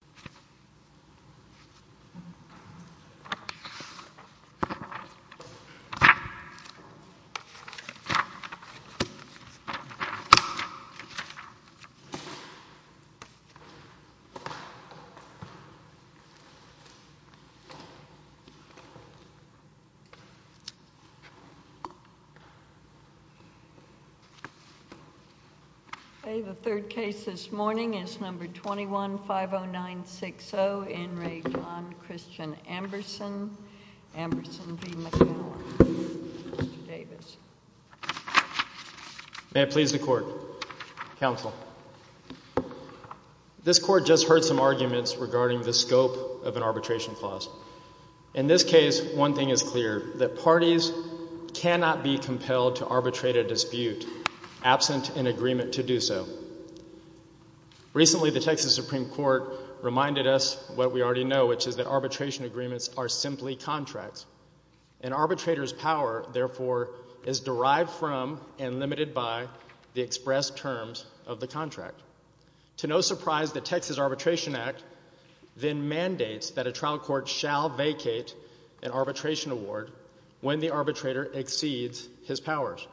in our country. This court just heard some arguments regarding the scope of an arbitration clause. In this case, one thing is clear, that parties cannot be compelled to arbitrate a dispute absent an agreement to do so. Recently, the Texas Supreme Court reminded us what we already know, which is that arbitration agreements are simply contracts. An arbitrator's power, therefore, is derived from and limited by the expressed terms of the contract. To no surprise, the Texas Arbitration Act then mandates that a trial court shall vacate an arbitration award when the arbitrator exceeds his powers.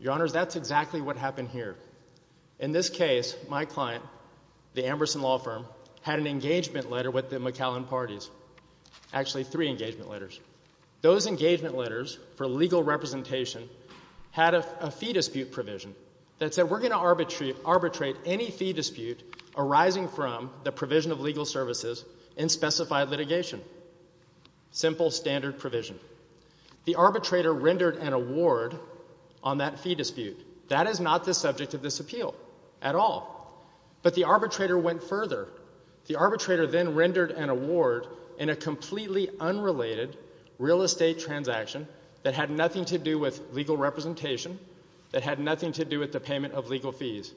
Your Honors, that's exactly what happened here. In this case, my client, the Amberson Law Firm, had an engagement letter with the McAllen parties. Actually, three engagement letters. Those engagement letters, for legal representation, had a fee dispute provision that said we're going to arbitrate any fee dispute arising from the provision of legal services in specified litigation. Simple standard provision. The arbitrator rendered an award on that fee dispute. That is not the subject of this appeal at all. But the arbitrator went further. The arbitrator then rendered an award in a completely unrelated real estate transaction that had nothing to do with legal representation, that had nothing to do with the payment of legal fees.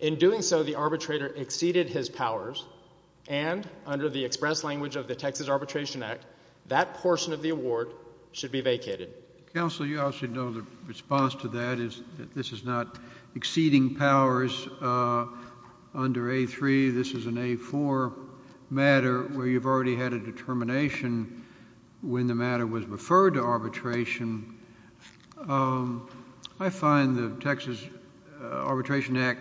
In doing so, the arbitrator exceeded his powers, and under the expressed language of the Texas Arbitration Act, the trial court should be vacated. Counsel, you obviously know the response to that is that this is not exceeding powers under A-3. This is an A-4 matter where you've already had a determination when the matter was referred to arbitration. I find the Texas Arbitration Act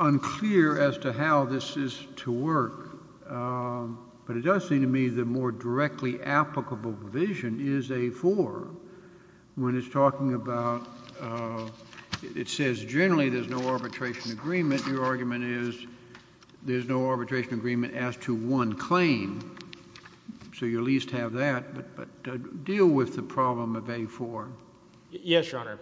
unclear as to how this is to work, but it does seem to me the more directly applicable provision is A-4. When it's talking about — it says generally there's no arbitration agreement, your argument is there's no arbitration agreement as to one claim, so you at least have that. But deal with the problem of A-4. Yes, Your Honor.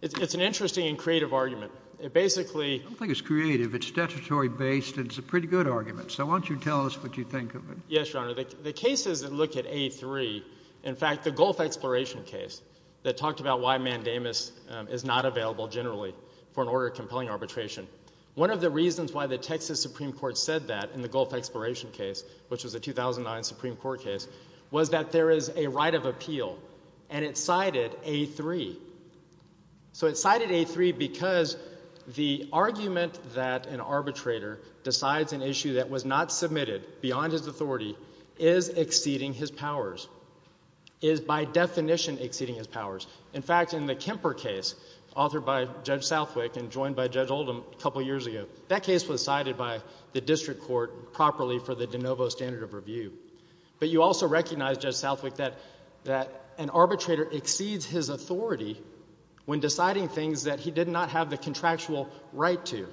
It's an interesting and creative argument. It basically — I don't think it's creative. It's statutory-based, and it's a pretty good argument. So why don't you tell us what you think of it? Yes, Your Honor. The cases that look at A-3 — in fact, the Gulf Exploration case that talked about why mandamus is not available generally for an order of compelling arbitration. One of the reasons why the Texas Supreme Court said that in the Gulf Exploration case, which was a 2009 Supreme Court case, was that there is a right of appeal, and it cited A-3. So it cited A-3 because the argument that an arbitrator decides an issue that was not under his authority is exceeding his powers, is by definition exceeding his powers. In fact, in the Kemper case, authored by Judge Southwick and joined by Judge Oldham a couple years ago, that case was cited by the district court properly for the de novo standard of review. But you also recognize, Judge Southwick, that an arbitrator exceeds his authority when deciding things that he did not have the contractual right to.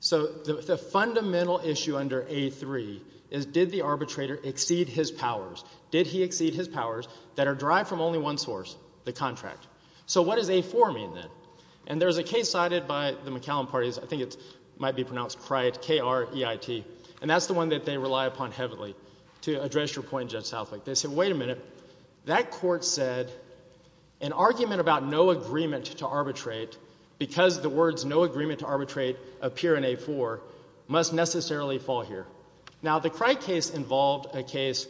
So the fundamental issue under A-3 is, did the arbitrator exceed his powers? Did he exceed his powers that are derived from only one source, the contract? So what does A-4 mean, then? And there's a case cited by the McCallum parties — I think it might be pronounced Kriet, K-R-E-I-T — and that's the one that they rely upon heavily to address your point, Judge Southwick. They said, wait a minute, that court said an argument about no agreement to arbitrate because the words no agreement to arbitrate appear in A-4 must necessarily fall here. Now, the Kriet case involved a case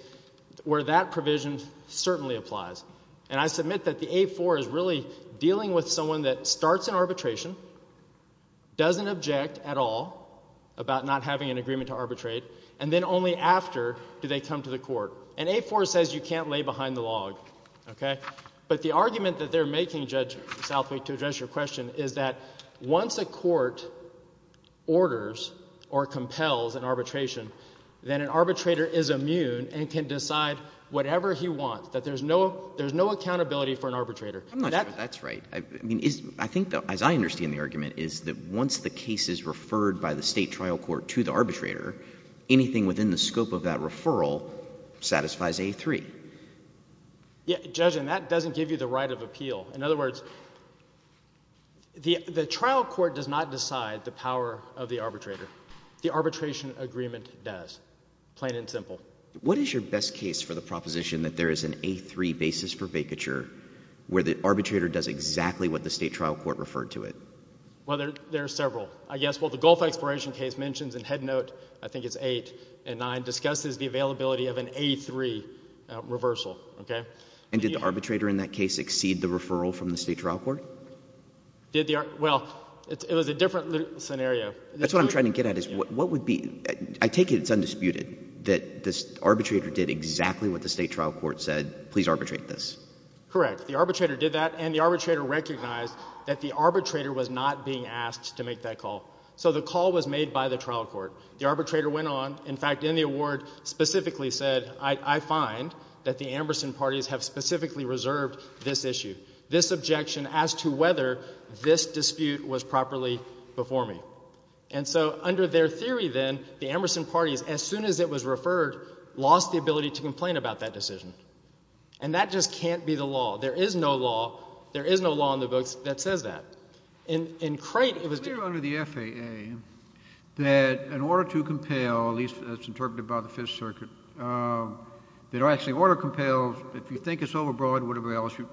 where that provision certainly applies. And I submit that the A-4 is really dealing with someone that starts an arbitration, doesn't object at all about not having an agreement to arbitrate, and then only after do they come to the court. And A-4 says you can't lay behind the log, okay? But the argument that they're making, Judge Southwick, to address your question, is that once a court orders or compels an arbitration, then an arbitrator is immune and can decide whatever he wants, that there's no — there's no accountability for an arbitrator. I'm not sure that that's right. I mean, is — I think, though, as I understand the argument, is that once the case is referred by the State trial court to the arbitrator, anything within the scope of that referral satisfies A-3. Yeah, Judge, and that doesn't give you the right of appeal. In other words, the trial court does not decide the power of the arbitrator. The arbitration agreement does, plain and simple. What is your best case for the proposition that there is an A-3 basis for vacature where the arbitrator does exactly what the State trial court referred to it? Well, there are several, I guess. Well, the Gulf Exploration case mentions in head note — I think it's 8 and 9 — discusses the availability of an A-3 reversal, OK? And did the arbitrator in that case exceed the referral from the State trial court? Did the — well, it was a different scenario. That's what I'm trying to get at, is what would be — I take it it's undisputed that the arbitrator did exactly what the State trial court said, please arbitrate this. Correct. The arbitrator did that, and the arbitrator recognized that the arbitrator was not being asked to make that call. So the call was made by the trial court. The arbitrator went on. In fact, in the award, specifically said, I find that the Amberson parties have specifically reserved this issue, this objection, as to whether this dispute was properly before me. And so under their theory then, the Amberson parties, as soon as it was referred, lost the ability to complain about that decision. And that just can't be the law. There is no law — there is no law in the books that says that. In Crate, it was — It's clear under the FAA that in order to compel, at least as interpreted by the Fifth Circuit, that actually, in order to compel, if you think it's overbroad or whatever else, you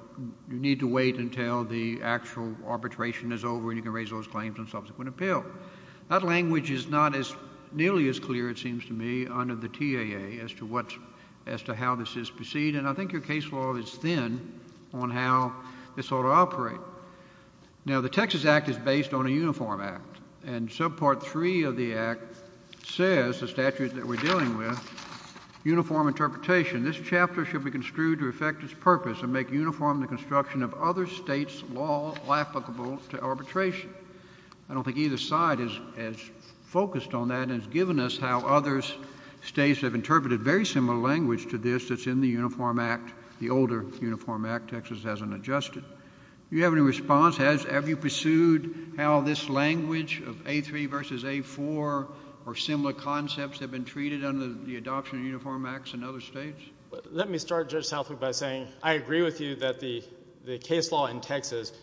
need to wait until the actual arbitration is over, and you can raise those claims on subsequent appeal. That language is not as — nearly as clear, it seems to me, under the TAA, as to what — as to how this is perceived, and I think your case law is thin on how this ought to operate. Now, the Texas Act is based on a uniform act, and subpart three of the act says, the statute that we're dealing with, uniform interpretation. This chapter should be construed to affect its purpose and make uniform the construction of other states' law applicable to arbitration. I don't think either side is as focused on that and has given us how other states have interpreted very similar language to this that's in the uniform act, the older uniform act, Texas hasn't adjusted. Do you have any response? Has — have you pursued how this language of A3 versus A4 or similar concepts have been treated under the adoption of uniform acts in other states? Let me start, Judge Southwick, by saying I agree with you that the case law in Texas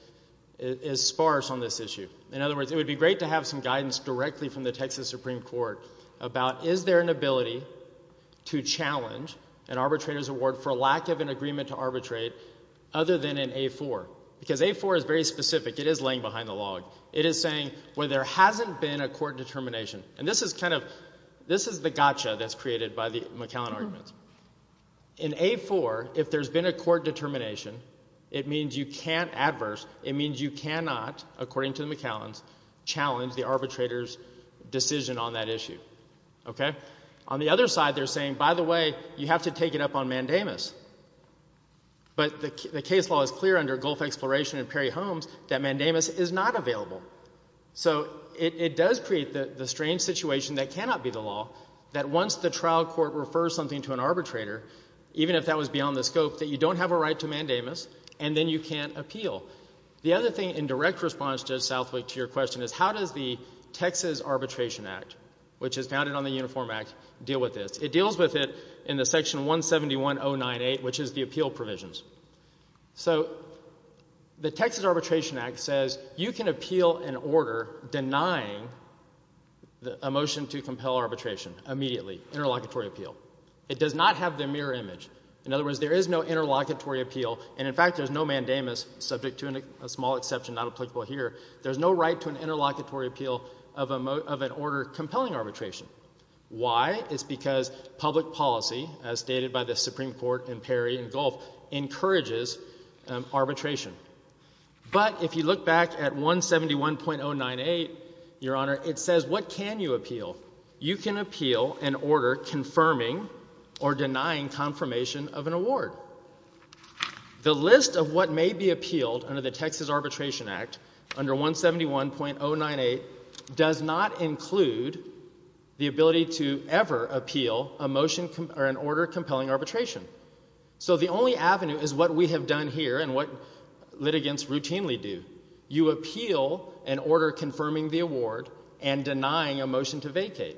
is sparse on this issue. In other words, it would be great to have some guidance directly from the Texas Supreme Court about is there an ability to challenge an arbitrator's award for lack of an agreement to arbitrate other than in A4? Because A4 is very specific. It is laying behind the log. It is saying, well, there hasn't been a court determination. And this is kind of — this is the gotcha that's created by the McCallan arguments. In A4, if there's been a court determination, it means you can't — adverse — it means you cannot, according to the McCallans, challenge the arbitrator's decision on that issue. Okay? On the other side, they're saying, by the way, you have to take it up on mandamus. But the case law is clear under Gulf Exploration and Perry Holmes that mandamus is not available. So it does create the strange situation that cannot be the law, that once the trial court refers something to an arbitrator, even if that was beyond the scope, that you don't have a right to mandamus, and then you can't appeal. The other thing in direct response, Judge Southwick, to your question is how does the Uniform Act deal with this. It deals with it in the section 171.098, which is the appeal provisions. So the Texas Arbitration Act says you can appeal an order denying a motion to compel arbitration immediately, interlocutory appeal. It does not have the mirror image. In other words, there is no interlocutory appeal, and, in fact, there's no mandamus subject to a small exception not applicable here. There's no right to an interlocutory appeal of an order compelling arbitration. Why? It's because public policy, as stated by the Supreme Court in Perry and Gulf, encourages arbitration. But if you look back at 171.098, Your Honor, it says what can you appeal? You can appeal an order confirming or denying confirmation of an award. However, the list of what may be appealed under the Texas Arbitration Act under 171.098 does not include the ability to ever appeal an order compelling arbitration. So the only avenue is what we have done here and what litigants routinely do. You appeal an order confirming the award and denying a motion to vacate.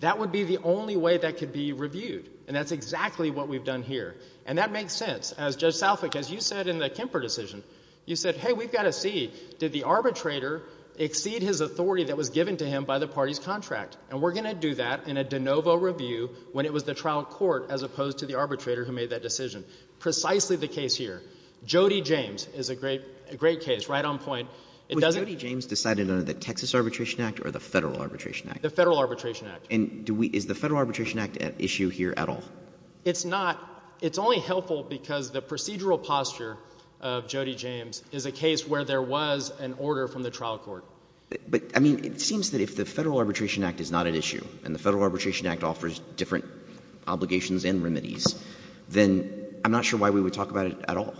That would be the only way that could be reviewed, and that's exactly what we've done here. And that makes sense. As Judge Salfik, as you said in the Kemper decision, you said, hey, we've got to see, did the arbitrator exceed his authority that was given to him by the party's contract? And we're going to do that in a de novo review when it was the trial court as opposed to the arbitrator who made that decision. Precisely the case here. Jody James is a great case, right on point. It doesn't Would Jody James decide it under the Texas Arbitration Act or the Federal Arbitration Act? The Federal Arbitration Act. And is the Federal Arbitration Act an issue here at all? It's not. It's only helpful because the procedural posture of Jody James is a case where there was an order from the trial court. But, I mean, it seems that if the Federal Arbitration Act is not an issue and the Federal Arbitration Act offers different obligations and remedies, then I'm not sure why we would talk about it at all.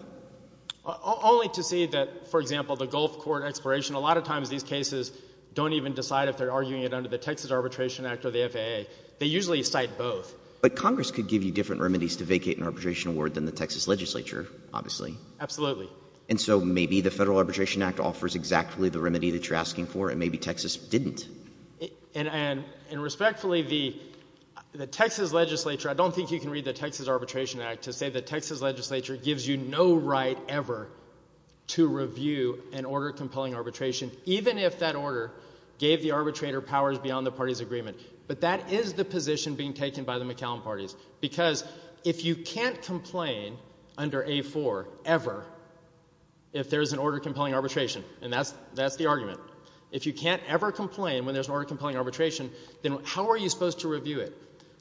Only to see that, for example, the Gulf Court expiration, a lot of times these cases don't even decide if they're arguing it under the Texas Arbitration Act or the FAA. They usually cite both. But Congress could give you different remedies to vacate an arbitration award than the Texas Legislature, obviously. Absolutely. And so maybe the Federal Arbitration Act offers exactly the remedy that you're asking for and maybe Texas didn't. And respectfully, the Texas Legislature, I don't think you can read the Texas Arbitration Act to say the Texas Legislature gives you no right ever to review an order compelling arbitration, even if that order gave the arbitrator powers beyond the party's agreement. But that is the position being taken by the McCallum parties. Because if you can't complain under A-4 ever if there's an order compelling arbitration, and that's the argument, if you can't ever complain when there's an order compelling arbitration, then how are you supposed to review it?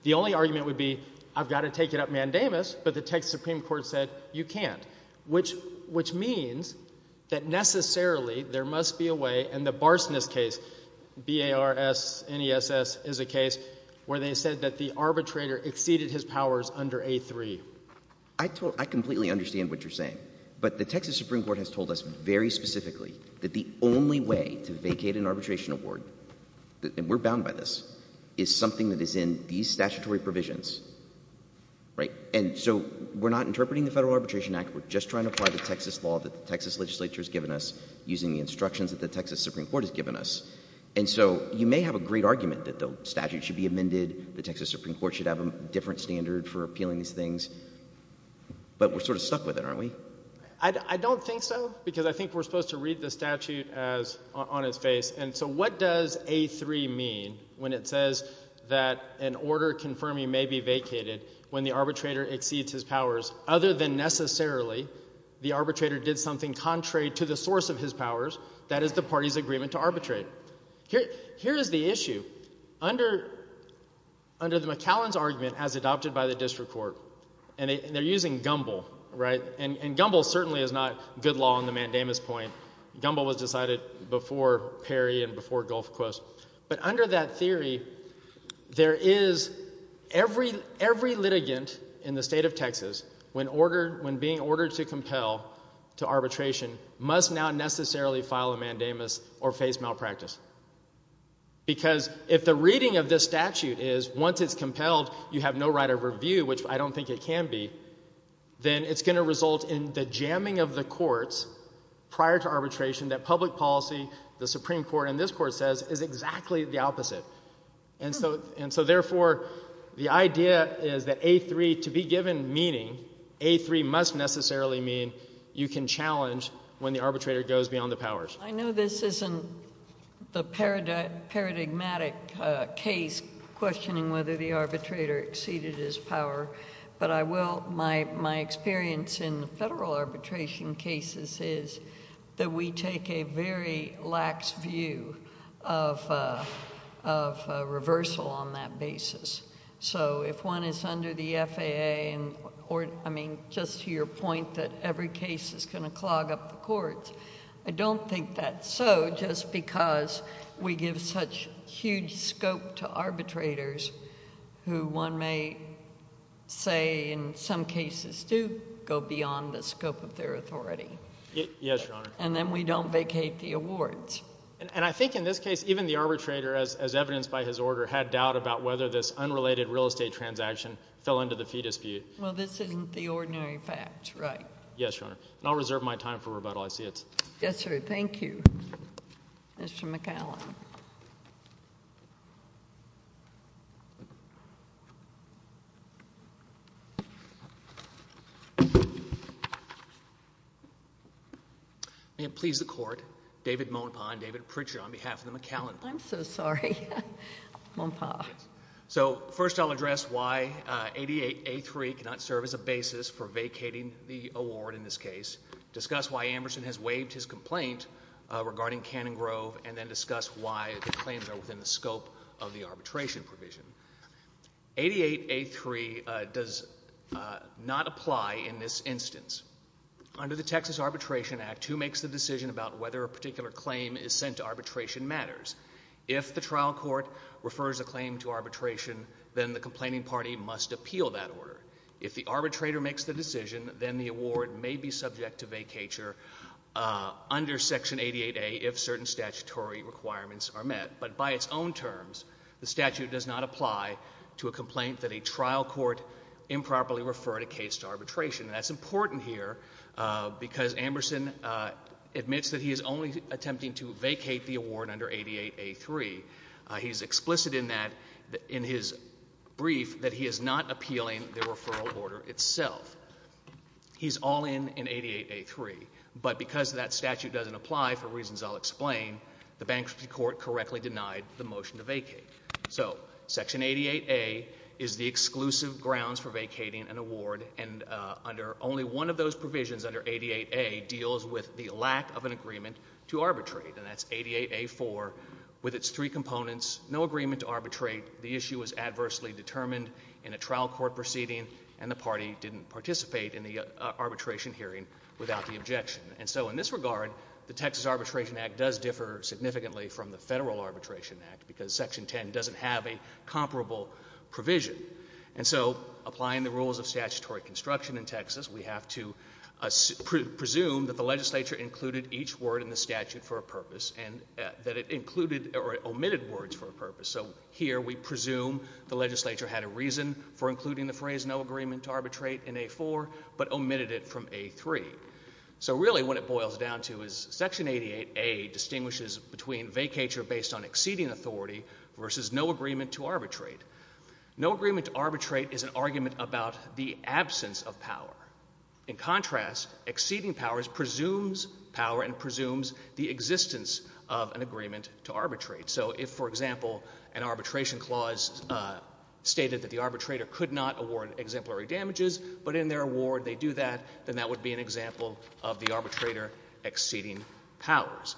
The only argument would be, I've got to take it up mandamus, but the Texas Supreme Court said you can't. Which means that necessarily there must be a way, and the Barsness case, B-A-R-S-N-E-S-S is a case where they said that the arbitrator exceeded his powers under A-3. I completely understand what you're saying. But the Texas Supreme Court has told us very specifically that the only way to vacate an arbitration award, and we're bound by this, is something that is in these statutory provisions. And so we're not interpreting the Federal Arbitration Act, we're just trying to apply the Texas law that the Texas Legislature has given us using the instructions that the Texas Supreme Court has given us. And so you may have a great argument that the statute should be amended, the Texas Supreme Court should have a different standard for appealing these things, but we're sort of stuck with it, aren't we? I don't think so, because I think we're supposed to read the statute on its face. And so what does A-3 mean when it says that an order confirming may be vacated when the arbitrator exceeds his powers, other than necessarily the arbitrator did something contrary to the source of his powers, that is the party's agreement to arbitrate? Here is the issue. Under the McAllen's argument, as adopted by the District Court, and they're using Gumbel, right? And Gumbel certainly is not good law on the mandamus point. Gumbel was decided before Perry and before Gulf Coast. But under that theory, there is every litigant in the state of Texas, when being ordered to compel to arbitration, must now necessarily file a mandamus or face malpractice. Because if the reading of this statute is, once it's compelled, you have no right of review, which I don't think it can be, then it's going to result in the jamming of the courts prior to arbitration that public policy, the Supreme Court, and this Court says is exactly the opposite. And so therefore, the idea is that A3, to be given meaning, A3 must necessarily mean you can challenge when the arbitrator goes beyond the powers. I know this isn't the paradigmatic case questioning whether the arbitrator exceeded his power, but I will... my experience in the federal arbitration cases is that we take a very lax view of reversal on that basis. So if one is under the FAA and, or, I mean, just to your point that every case is going to clog up the courts, I don't think that's so just because we give such huge scope to say in some cases do go beyond the scope of their authority. Yes, Your Honor. And then we don't vacate the awards. And I think in this case, even the arbitrator, as evidenced by his order, had doubt about whether this unrelated real estate transaction fell into the fee dispute. Well, this isn't the ordinary fact, right? Yes, Your Honor. And I'll reserve my time for rebuttal. I see it's... Yes, sir. Thank you. Mr. McCallum. May it please the Court, David Monpaugh and David Pritchard, on behalf of the McCallum... I'm so sorry. Monpaugh. Yes. So, first, I'll address why 88A3 cannot serve as a basis for vacating the award in this case, discuss why Amberson has waived his complaint regarding Cannon Grove, and then discuss why the claims are within the scope of the arbitration provision. 88A3 does not apply in this instance. Under the Texas Arbitration Act, who makes the decision about whether a particular claim is sent to arbitration matters. If the trial court refers a claim to arbitration, then the complaining party must appeal that order. If the arbitrator makes the decision, then the award may be subject to vacatur under Section 88A if certain statutory requirements are met. But by its own terms, the statute does not apply to a complaint that a trial court improperly referred a case to arbitration. That's important here because Amberson admits that he is only attempting to vacate the award under 88A3. He's explicit in that, in his brief, that he is not appealing the referral order itself. He's all in in 88A3. But because that statute doesn't apply, for reasons I'll explain, the bankruptcy court correctly denied the motion to vacate. So Section 88A is the exclusive grounds for vacating an award, and under only one of those provisions under 88A deals with the lack of an agreement to arbitrate, and that's 88A4 with its three components, no agreement to arbitrate, the issue was adversely determined in a trial court proceeding, and the party didn't participate in the arbitration hearing without the objection. And so in this regard, the Texas Arbitration Act does differ significantly from the Federal Arbitration Act because Section 10 doesn't have a comparable provision. And so applying the rules of statutory construction in Texas, we have to presume that the legislature included each word in the statute for a purpose and that it included or omitted words for a purpose. So here we presume the legislature had a reason for including the phrase no agreement to arbitrate in A4, but omitted it from A3. So really what it boils down to is Section 88A distinguishes between vacature based on exceeding authority versus no agreement to arbitrate. No agreement to arbitrate is an argument about the absence of power. In contrast, exceeding powers presumes power and presumes the existence of an agreement to arbitrate. So if, for example, an arbitration clause stated that the arbitrator could not award exemplary damages, but in their award they do that, then that would be an example of the arbitrator exceeding powers.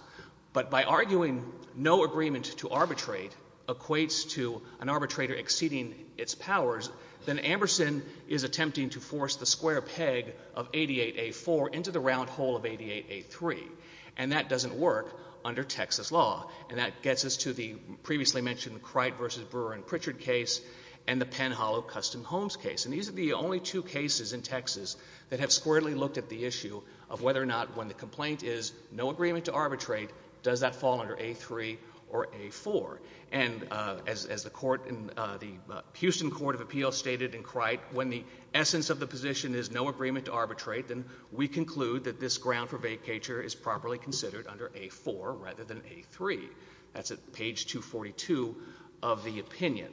But by arguing no agreement to arbitrate equates to an arbitrator exceeding its powers, then Amberson is attempting to force the square peg of 88A4 into the round hole of 88A3. And that doesn't work under Texas law. And that gets us to the previously mentioned Cright versus Brewer and Pritchard case and the Penn Hollow Custom Homes case. And these are the only two cases in Texas that have squarely looked at the issue of whether or not when the complaint is no agreement to arbitrate, does that fall under A3 or A4. And as the court in the Houston Court of Appeals stated in Cright, when the essence of the position is no agreement to arbitrate, then we conclude that this ground for vacature is properly considered under A4 rather than A3. That's at page 242 of the opinion.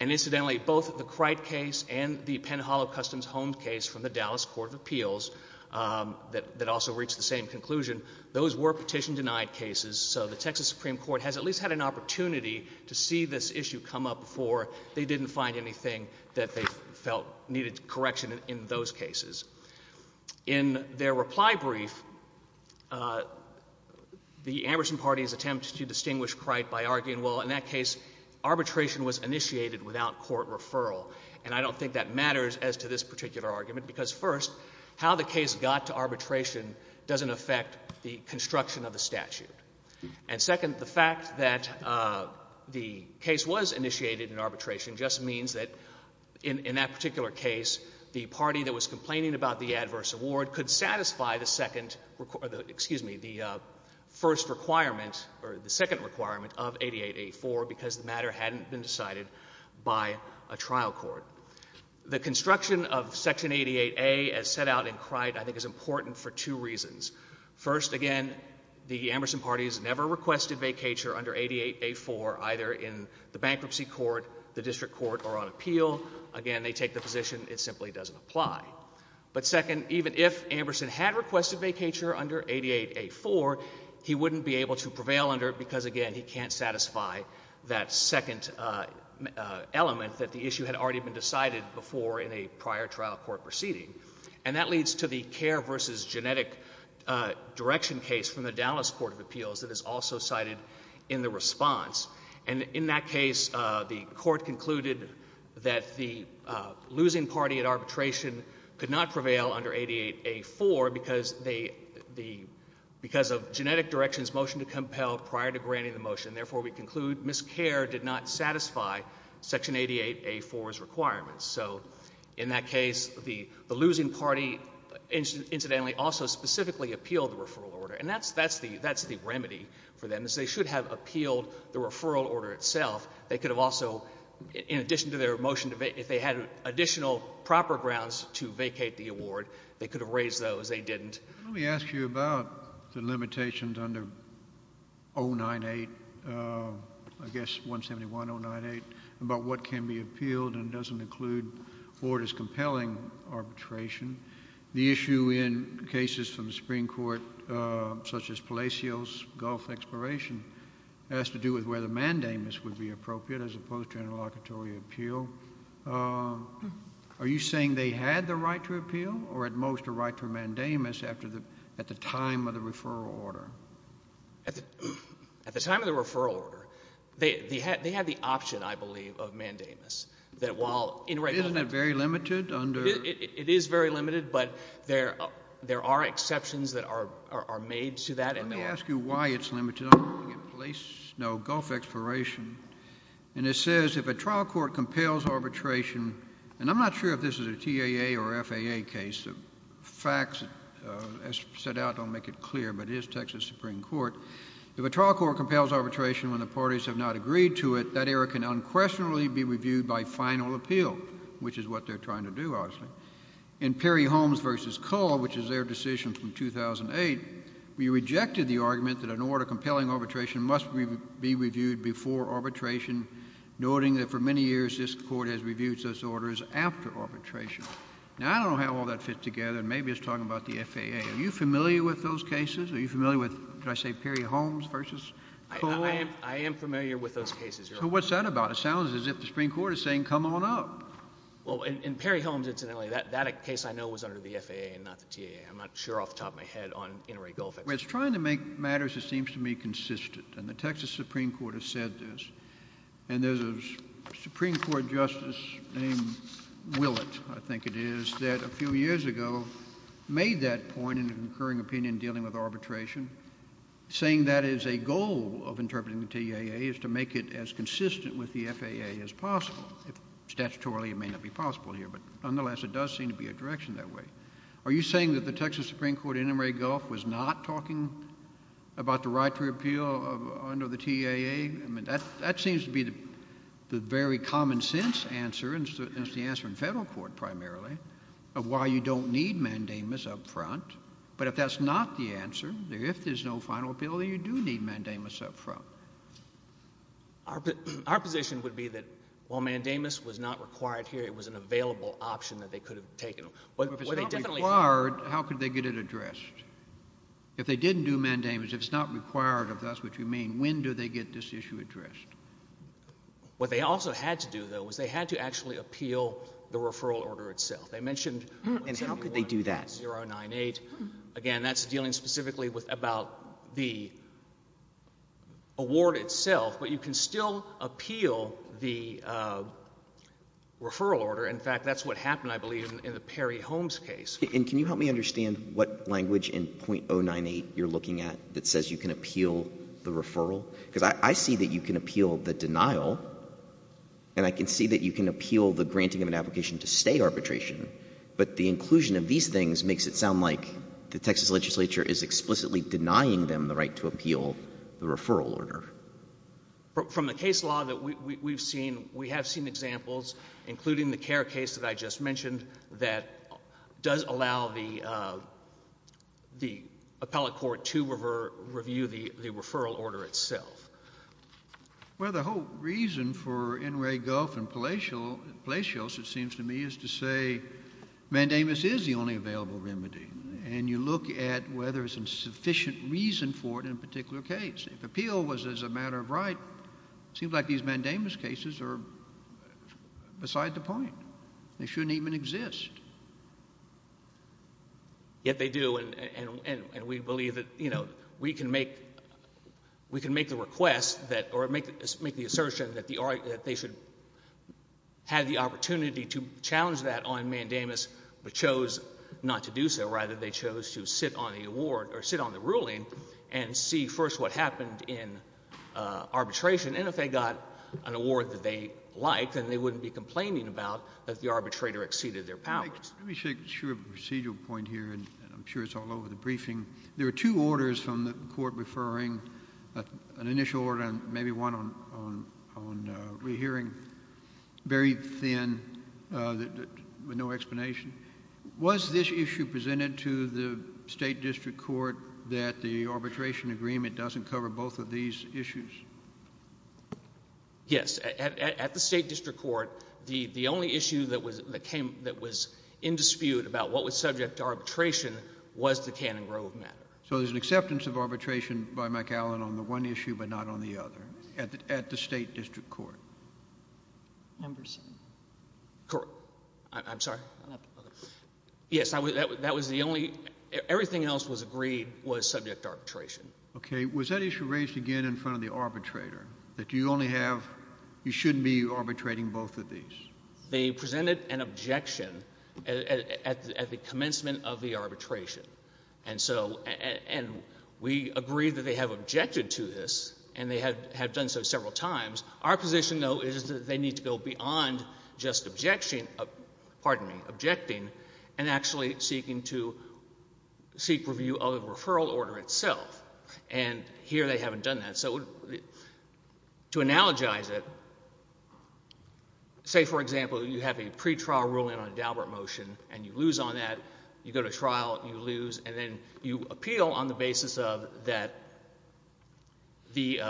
And incidentally, both the Cright case and the Penn Hollow Customs Homes case from the Dallas Court of Appeals that also reached the same conclusion, those were petition denied cases. So the Texas Supreme Court has at least had an opportunity to see this issue come up before they didn't find anything that they felt needed correction in those cases. In their reply brief, the Amberson party's attempt to distinguish Cright by arguing, well, in that case, arbitration was initiated without court referral. And I don't think that matters as to this particular argument, because first, how the case got to arbitration doesn't affect the construction of the statute. And second, the fact that the case was initiated in arbitration just means that in that particular case, the party that was complaining about the adverse award could satisfy the second — excuse me, the first requirement, or the second requirement of 88A4 because the matter hadn't been decided by a trial court. The construction of Section 88A as set out in Cright, I think, is important for two reasons. First, again, the Amberson party has never requested vacature under 88A4, either in the bankruptcy court, the district court, or on appeal. Again, they take the position it simply doesn't apply. But second, even if Amberson had requested vacature under 88A4, he wouldn't be able to prevail under it because, again, he can't satisfy that second element that the issue had already been decided before in a prior trial court proceeding. And that leads to the care versus genetic direction case from the Dallas Court of Appeals that is also cited in the response. And in that case, the court concluded that the losing party at arbitration could not prevail under 88A4 because they — because of genetic direction's motion to compel prior to granting the motion. Therefore, we conclude miscare did not satisfy Section 88A4's requirements. So in that case, the losing party incidentally also specifically appealed the referral order. And that's the remedy for them, is they should have appealed the referral order itself. They could have also, in addition to their motion to vacate — if they had additional proper grounds to vacate the award, they could have raised those. They didn't. Let me ask you about the limitations under 098 — I guess 171098 — about what can be appealed and doesn't include orders compelling arbitration. The issue in cases from the Supreme Court, such as Palacio's Gulf Exploration, has to do with whether mandamus would be appropriate as opposed to interlocutory appeal. Are you saying they had the right to appeal or at most a right to a mandamus after the — at the time of the referral order? At the time of the referral order, they had the option, I believe, of mandamus, that while — Isn't that very limited under — It is very limited, but there are exceptions that are made to that, and there are — Let me ask you why it's limited under 098, please. No, Gulf Exploration. And it says, if a trial court compels arbitration — and I'm not sure if this is a TAA or FAA case. The facts, as set out, don't make it clear, but it is Texas Supreme Court — if a trial court compels arbitration when the parties have not agreed to it, that error can unquestionably be reviewed by final appeal, which is what they're trying to do, obviously. In Perry-Holmes v. Cole, which is their decision from 2008, we rejected the argument that an order compelling arbitration must be reviewed before arbitration, noting that for many years this Court has reviewed such orders after arbitration. Now, I don't know how all that fits together, and maybe it's talking about the FAA. Are you familiar with those cases? Are you familiar with — did I say Perry-Holmes v. Cole? I am familiar with those cases, Your Honor. So what's that about? It sounds as if the Supreme Court is saying, come on up. Well, in Perry-Holmes, incidentally, that case I know was under the FAA and not the TAA. I'm not sure off the top of my head on inter-agreed goal fix. Well, it's trying to make matters, it seems to me, consistent, and the Texas Supreme Court has said this. And there's a Supreme Court justice named Willett, I think it is, that a few years ago made that point in an incurring opinion dealing with arbitration, saying that is a goal of the FAA is possible. Statutorily, it may not be possible here, but nonetheless, it does seem to be a direction that way. Are you saying that the Texas Supreme Court in Emory Gulf was not talking about the right to appeal under the TAA? I mean, that seems to be the very common sense answer, and it's the answer in federal court primarily, of why you don't need mandamus up front. But if that's not the answer, if there's no final appeal, then you do need mandamus up front. Our position would be that while mandamus was not required here, it was an available option that they could have taken. But if it's not required, how could they get it addressed? If they didn't do mandamus, if it's not required, if that's what you mean, when do they get this issue addressed? What they also had to do, though, was they had to actually appeal the referral order itself. They mentioned— And how could they do that? 0.098. Again, that's dealing specifically with about the award itself, but you can still appeal the referral order. In fact, that's what happened, I believe, in the Perry Holmes case. And can you help me understand what language in 0.098 you're looking at that says you can appeal the referral? Because I see that you can appeal the denial, and I can see that you can appeal the granting of an application to stay arbitration. But the inclusion of these things makes it sound like the Texas legislature is explicitly denying them the right to appeal the referral order. From the case law that we've seen, we have seen examples, including the Kerr case that I just mentioned, that does allow the appellate court to review the referral order itself. Well, the whole reason for Inouye, Gulf, and Palacios, it seems to me, is to say mandamus is the only available remedy. And you look at whether there's a sufficient reason for it in a particular case. If appeal was a matter of right, it seems like these mandamus cases are beside the point. They shouldn't even exist. Yet they do, and we believe that, you know, we can make the request that, or make the assertion that they should have the opportunity to challenge that on mandamus, but chose not to do so. Rather, they chose to sit on the award, or sit on the ruling, and see first what happened in arbitration. And if they got an award that they liked, then they wouldn't be complaining about that the arbitrator exceeded their powers. Let me make sure of a procedural point here, and I'm sure it's all over the briefing. There are two orders from the court referring, an initial order and maybe one on re-hearing, very thin, with no explanation. Was this issue presented to the state district court that the arbitration agreement doesn't cover both of these issues? Yes. At the state district court, the only issue that was in dispute about what was subject to arbitration was the Cannon Grove matter. So there's an acceptance of arbitration by McAllen on the one issue but not on the other at the state district court? Emberson. Correct. I'm sorry? Yes, that was the only, everything else was agreed was subject to arbitration. Okay. Was that issue raised again in front of the arbitrator, that you only have, you shouldn't be arbitrating both of these? They presented an objection at the commencement of the arbitration, and so, and we agreed that they have objected to this, and they have done so several times. Our position, though, is that they need to go beyond just objection, pardon me, objecting, and actually seeking to seek review of the referral order itself, and here they haven't done that. So to analogize it, say, for example, you have a pretrial ruling on a Daubert motion and you lose on that, you go to trial, you lose, and then you appeal on the basis of that the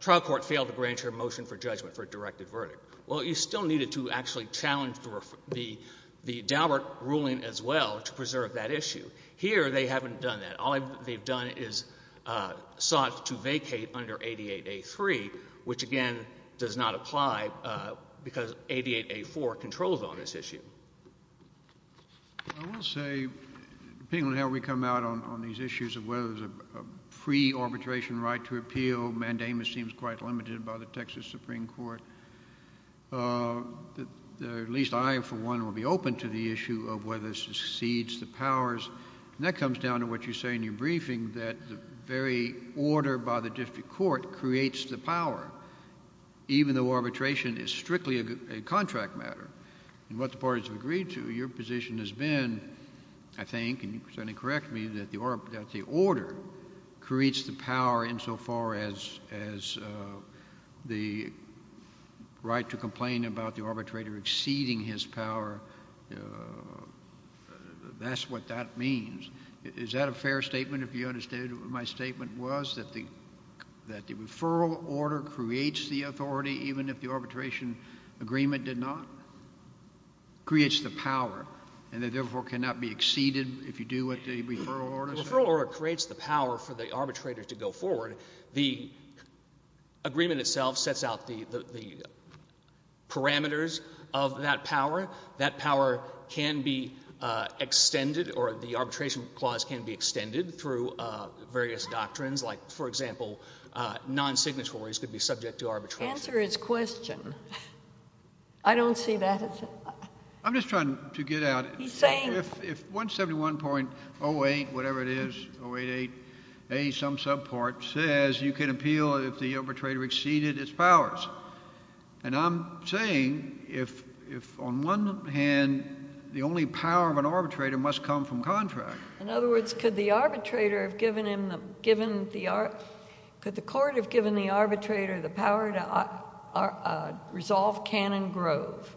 trial court failed to grant you a motion for judgment for a directed verdict. Well, you still needed to actually challenge the Daubert ruling as well to preserve that issue. Here, they haven't done that. All they've done is sought to vacate under 88A3, which again does not apply because 88A4 controls on this issue. I will say, depending on how we come out on these issues of whether there's a free arbitration right to appeal, mandamus seems quite limited by the Texas Supreme Court, at least I, for one, will be open to the issue of whether this exceeds the powers, and that comes down to what you say in your briefing, that the very order by the district court creates the power, even though arbitration is strictly a contract matter. And what the parties have agreed to, your position has been, I think, and you certainly correct me, that the order creates the power insofar as the right to complain about the arbitrator exceeding his power, that's what that means. Is that a fair statement, if you understand what my statement was, that the referral order creates the authority, even if the arbitration agreement did not? Creates the power, and it therefore cannot be exceeded if you do what the referral order says? The referral order creates the power for the arbitrator to go forward. The agreement itself sets out the parameters of that power. That power can be extended or the arbitration clause can be extended through various doctrines, like, for example, non-signatories could be subject to arbitration. Answer his question. I don't see that. I'm just trying to get out. He's saying. If 171.08, whatever it is, 088A, some subpart, says you can appeal if the arbitrator exceeded its powers, and I'm saying if, on one hand, the only power of an arbitrator must come from contract. In other words, could the arbitrator have given him the, given the, could the court have given the arbitrator the power to resolve Cannon Grove,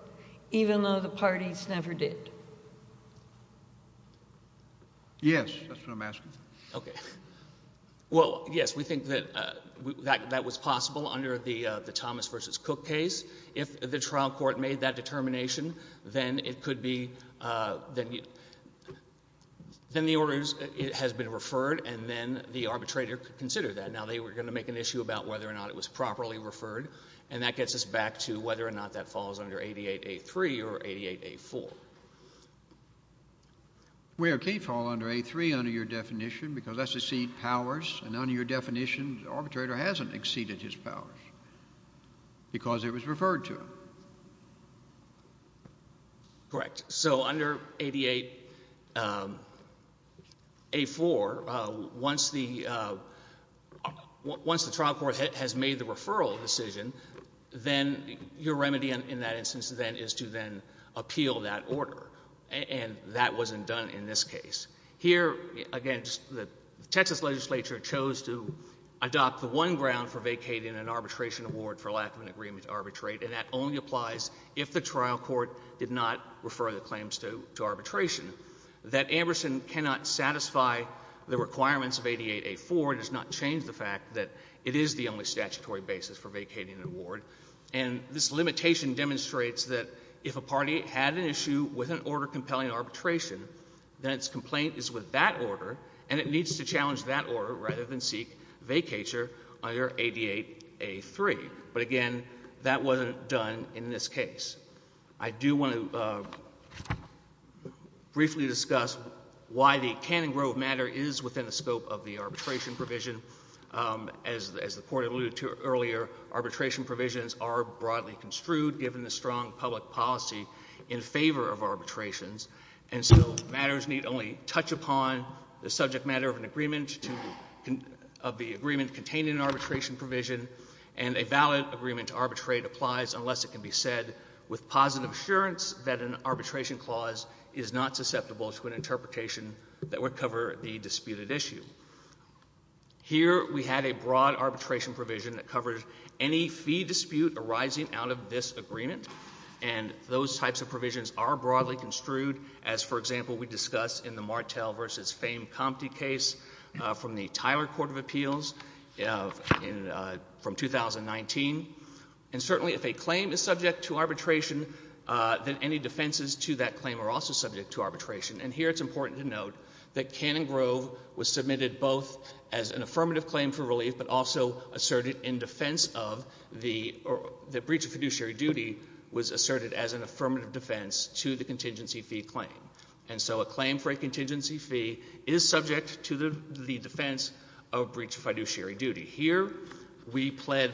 even though the parties never did? Yes, that's what I'm asking. Okay. Well, yes, we think that that was possible under the Thomas v. Cook case. If the trial court made that determination, then it could be, then the order has been referred, and then the arbitrator could consider that. Now, they were going to make an issue about whether or not it was properly referred, and that gets us back to whether or not that falls under 88A3 or 88A4. Well, it can fall under 83 under your definition because that's exceed powers, and under your definition the arbitrator hasn't exceeded his powers because it was referred to him. Correct. So under 88A4, once the trial court has made the referral decision, then your remedy in that instance then is to then appeal that order, and that wasn't done in this case. Here, again, the Texas legislature chose to adopt the one ground for vacating an arbitration award for lack of an agreement to arbitrate, and that only applies if the trial court did not refer the claims to arbitration. That Amberson cannot satisfy the requirements of 88A4 does not change the fact that it is the only statutory basis for vacating an award, and this limitation demonstrates that if a party had an issue with an order compelling arbitration, then its complaint is with that order, and it needs to challenge that order rather than seek vacatur under 88A3. But, again, that wasn't done in this case. I do want to briefly discuss why the Canning Grove matter is within the scope of the arbitration provision. As the Court alluded to earlier, arbitration provisions are broadly construed given the strong public policy in favor of arbitrations, and so matters need only touch upon the subject matter of the agreement containing an arbitration provision, and a valid agreement to arbitrate applies unless it can be said with positive assurance that an arbitration clause is not susceptible to an interpretation that would cover the disputed issue. Here we had a broad arbitration provision that covered any fee dispute arising out of this agreement, and those types of provisions are broadly construed as, for example, we discussed in the Martel v. Fame-Compte case from the Tyler Court of Appeals from 2019. And certainly if a claim is subject to arbitration, then any defenses to that claim are also subject to arbitration. And here it's important to note that Canning Grove was submitted both as an affirmative claim for relief but also asserted in defense of the breach of fiduciary duty was asserted as an affirmative defense to the contingency fee claim. And so a claim for a contingency fee is subject to the defense of breach of fiduciary duty. Here we pled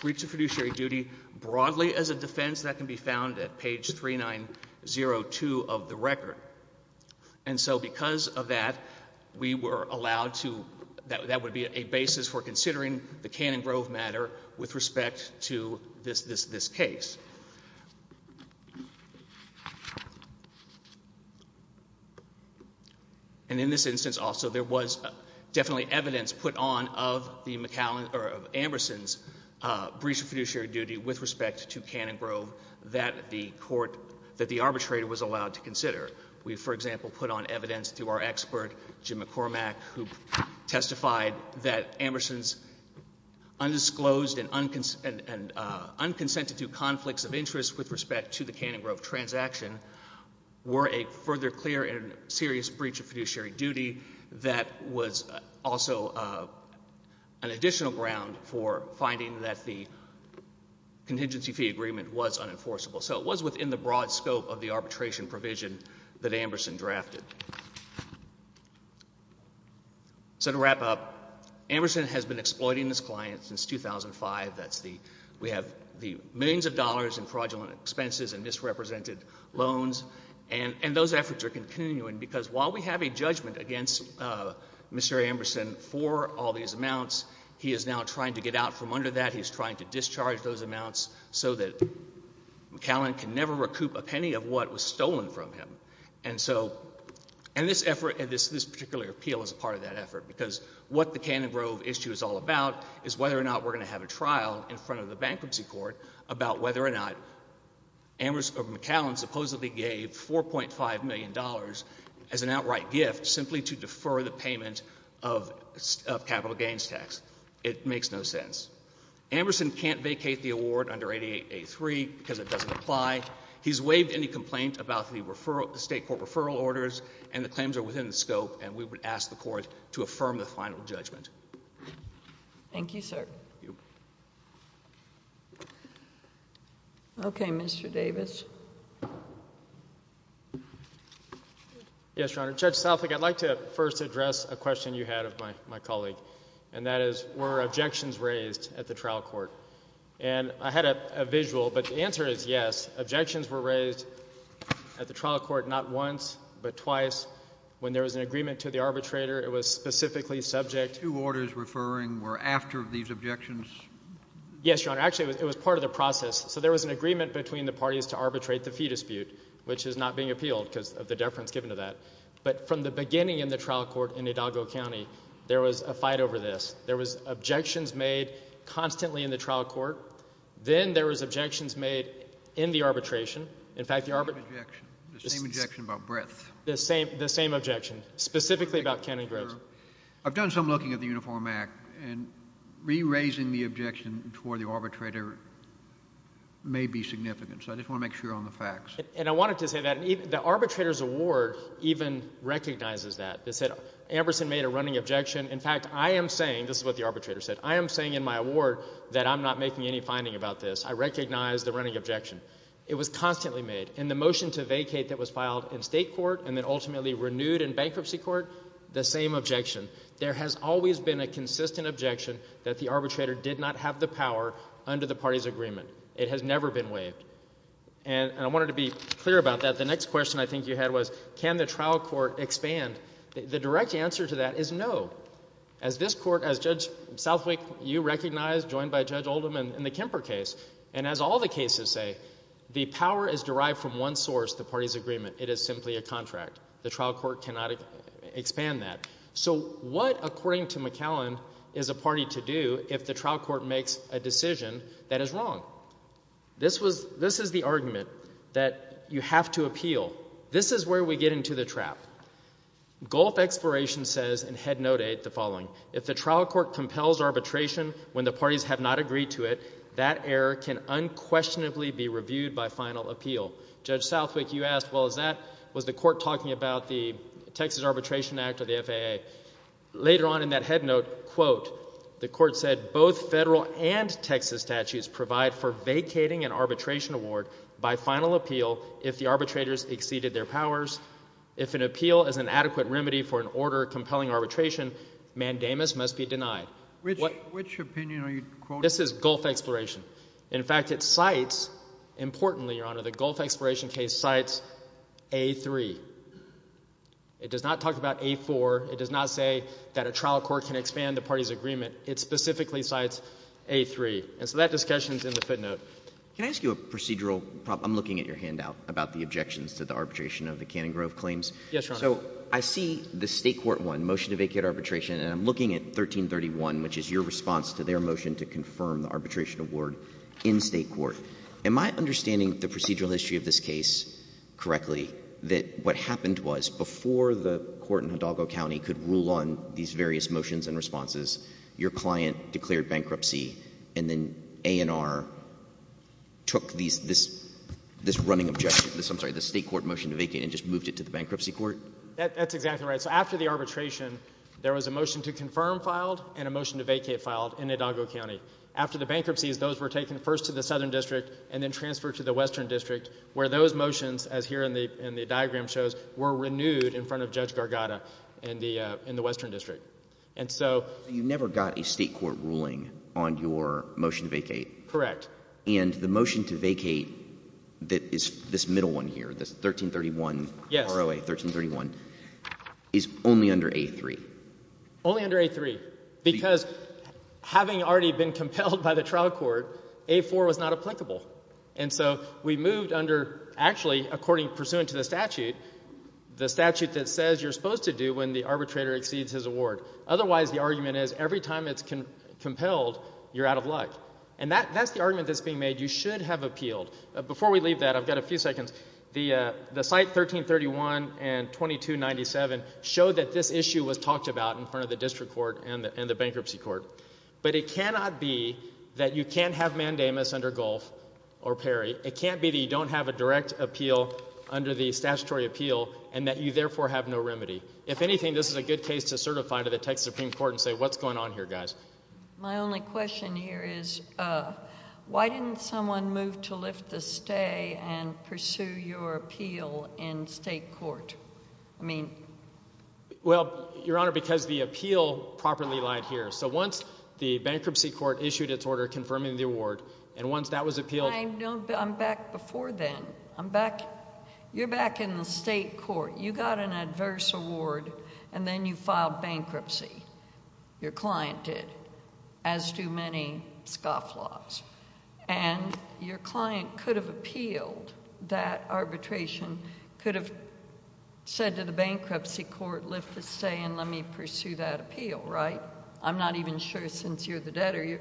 breach of fiduciary duty broadly as a defense that can be found at page 3902 of the record. And so because of that, we were allowed to – that would be a basis for considering the Canning Grove matter with respect to this case. And in this instance also, there was definitely evidence put on of Amberson's breach of fiduciary duty with respect to Canning Grove that the court – that the arbitrator was allowed to consider. We, for example, put on evidence through our expert, Jim McCormack, who testified that Amberson's undisclosed and unconsented to conflicts of interest with respect to the Canning Grove transaction were a further clear and serious breach of fiduciary duty that was also an additional ground for finding that the contingency fee agreement was unenforceable. So it was within the broad scope of the arbitration provision that Amberson drafted. So to wrap up, Amberson has been exploiting his clients since 2005. That's the – we have the millions of dollars in fraudulent expenses and misrepresented loans. And those efforts are continuing because while we have a judgment against Mr. Amberson for all these amounts, he is now trying to get out from under that. He is trying to discharge those amounts so that McCallan can never recoup a penny of what was stolen from him. And so – and this effort – this particular appeal is a part of that effort because what the Canning Grove issue is all about is whether or not we're going to have a trial in front of the bankruptcy court about whether or not Ambers – or McCallan supposedly gave $4.5 million as an outright gift simply to defer the payment of capital gains tax. It makes no sense. Amberson can't vacate the award under 8883 because it doesn't apply. He's waived any complaint about the state court referral orders and the claims are within the scope and we would ask the court to affirm the final judgment. Thank you, sir. Okay, Mr. Davis. Yes, Your Honor. Judge Southwick, I'd like to first address a question you had of my colleague, and that is were objections raised at the trial court? And I had a visual, but the answer is yes. Objections were raised at the trial court not once, but twice. When there was an agreement to the arbitrator, it was specifically subject – Two orders referring were after these objections? Yes, Your Honor. Actually, it was part of the process. So there was an agreement between the parties to arbitrate the fee dispute, which is not being appealed because of the deference given to that. But from the beginning in the trial court in Hidalgo County, there was a fight over this. There was objections made constantly in the trial court. Then there was objections made in the arbitration. The same objection about breadth. The same objection, specifically about Ken and Grace. I've done some looking at the Uniform Act and re-raising the objection toward the arbitrator may be significant, so I just want to make sure on the facts. And I wanted to say that the arbitrator's award even recognizes that. It said Amberson made a running objection. In fact, I am saying – this is what the arbitrator said – I am saying in my award that I'm not making any finding about this. I recognize the running objection. It was constantly made. In the motion to vacate that was filed in state court and then ultimately renewed in bankruptcy court, the same objection. There has always been a consistent objection that the arbitrator did not have the power under the party's agreement. It has never been waived. And I wanted to be clear about that. The next question I think you had was can the trial court expand? The direct answer to that is no. As this court, as Judge Southwick, you recognize, joined by Judge Oldham in the Kemper case, and as all the cases say, the power is derived from one source, the party's agreement. It is simply a contract. The trial court cannot expand that. So what, according to McAllen, is a party to do if the trial court makes a decision that is wrong? This is the argument that you have to appeal. This is where we get into the trap. Gulf Exploration says in Head Note 8 the following, if the trial court compels arbitration when the parties have not agreed to it, that error can unquestionably be reviewed by final appeal. Judge Southwick, you asked, well, is that, was the court talking about the Texas Arbitration Act or the FAA? Later on in that Head Note, quote, the court said, both federal and Texas statutes provide for vacating an arbitration award by final appeal if the arbitrators exceeded their powers. If an appeal is an adequate remedy for an order compelling arbitration, mandamus must be denied. Which opinion are you quoting? This is Gulf Exploration. In fact, it cites, importantly, Your Honor, the Gulf Exploration case cites A3. It does not talk about A4. It does not say that a trial court can expand a party's agreement. It specifically cites A3. And so that discussion is in the footnote. Can I ask you a procedural problem? I'm looking at your handout about the objections to the arbitration of the Canning Grove claims. Yes, Your Honor. So I see the state court one, motion to vacate arbitration, and I'm looking at 1331, which is your response to their motion to confirm the arbitration award in state court. Am I understanding the procedural history of this case correctly, that what happened was before the court in Hidalgo County could rule on these various motions and responses, your client declared bankruptcy, and then A&R took this running objection, I'm sorry, this state court motion to vacate and just moved it to the bankruptcy court? That's exactly right. So after the arbitration, there was a motion to confirm filed and a motion to vacate filed in Hidalgo County. After the bankruptcies, those were taken first to the Southern District and then transferred to the Western District, where those motions, as here in the diagram shows, were renewed in front of Judge Gargata in the Western District. And so you never got a state court ruling on your motion to vacate. Correct. And the motion to vacate that is this middle one here, this 1331, ROA 1331, is only under A3. Only under A3 because having already been compelled by the trial court, A4 was not applicable. And so we moved under actually, according, pursuant to the statute, the statute that says you're supposed to do when the arbitrator exceeds his award. Otherwise, the argument is every time it's compelled, you're out of luck. And that's the argument that's being made. You should have appealed. Before we leave that, I've got a few seconds. The site 1331 and 2297 show that this issue was talked about in front of the district court and the bankruptcy court. But it cannot be that you can't have mandamus under Gulf or Perry. It can't be that you don't have a direct appeal under the statutory appeal and that you therefore have no remedy. If anything, this is a good case to certify to the Texas Supreme Court and say, what's going on here, guys? My only question here is why didn't someone move to lift the stay and pursue your appeal in state court? I mean— Well, Your Honor, because the appeal properly lied here. So once the bankruptcy court issued its order confirming the award, and once that was appealed— I'm back before then. I'm back—you're back in the state court. You got an adverse award, and then you filed bankruptcy. Your client did, as do many scofflaws. And your client could have appealed that arbitration, could have said to the bankruptcy court, lift the stay and let me pursue that appeal, right? I'm not even sure since you're the debtor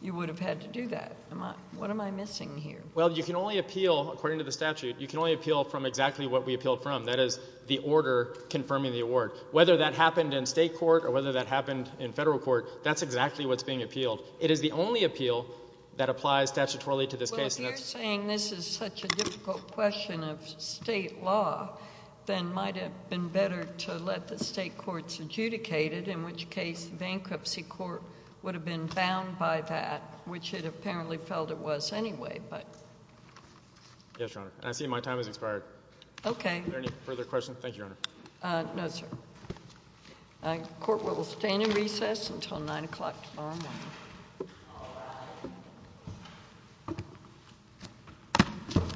you would have had to do that. What am I missing here? Well, you can only appeal—according to the statute, you can only appeal from exactly what we appealed from. That is the order confirming the award. Whether that happened in state court or whether that happened in federal court, that's exactly what's being appealed. It is the only appeal that applies statutorily to this case. Well, if you're saying this is such a difficult question of state law, then it might have been better to let the state courts adjudicate it, in which case the bankruptcy court would have been bound by that, which it apparently felt it was anyway. Yes, Your Honor. And I see my time has expired. Okay. Are there any further questions? No, sir. Thank you, Your Honor. No, sir. The court will stand in recess until 9 o'clock tomorrow morning.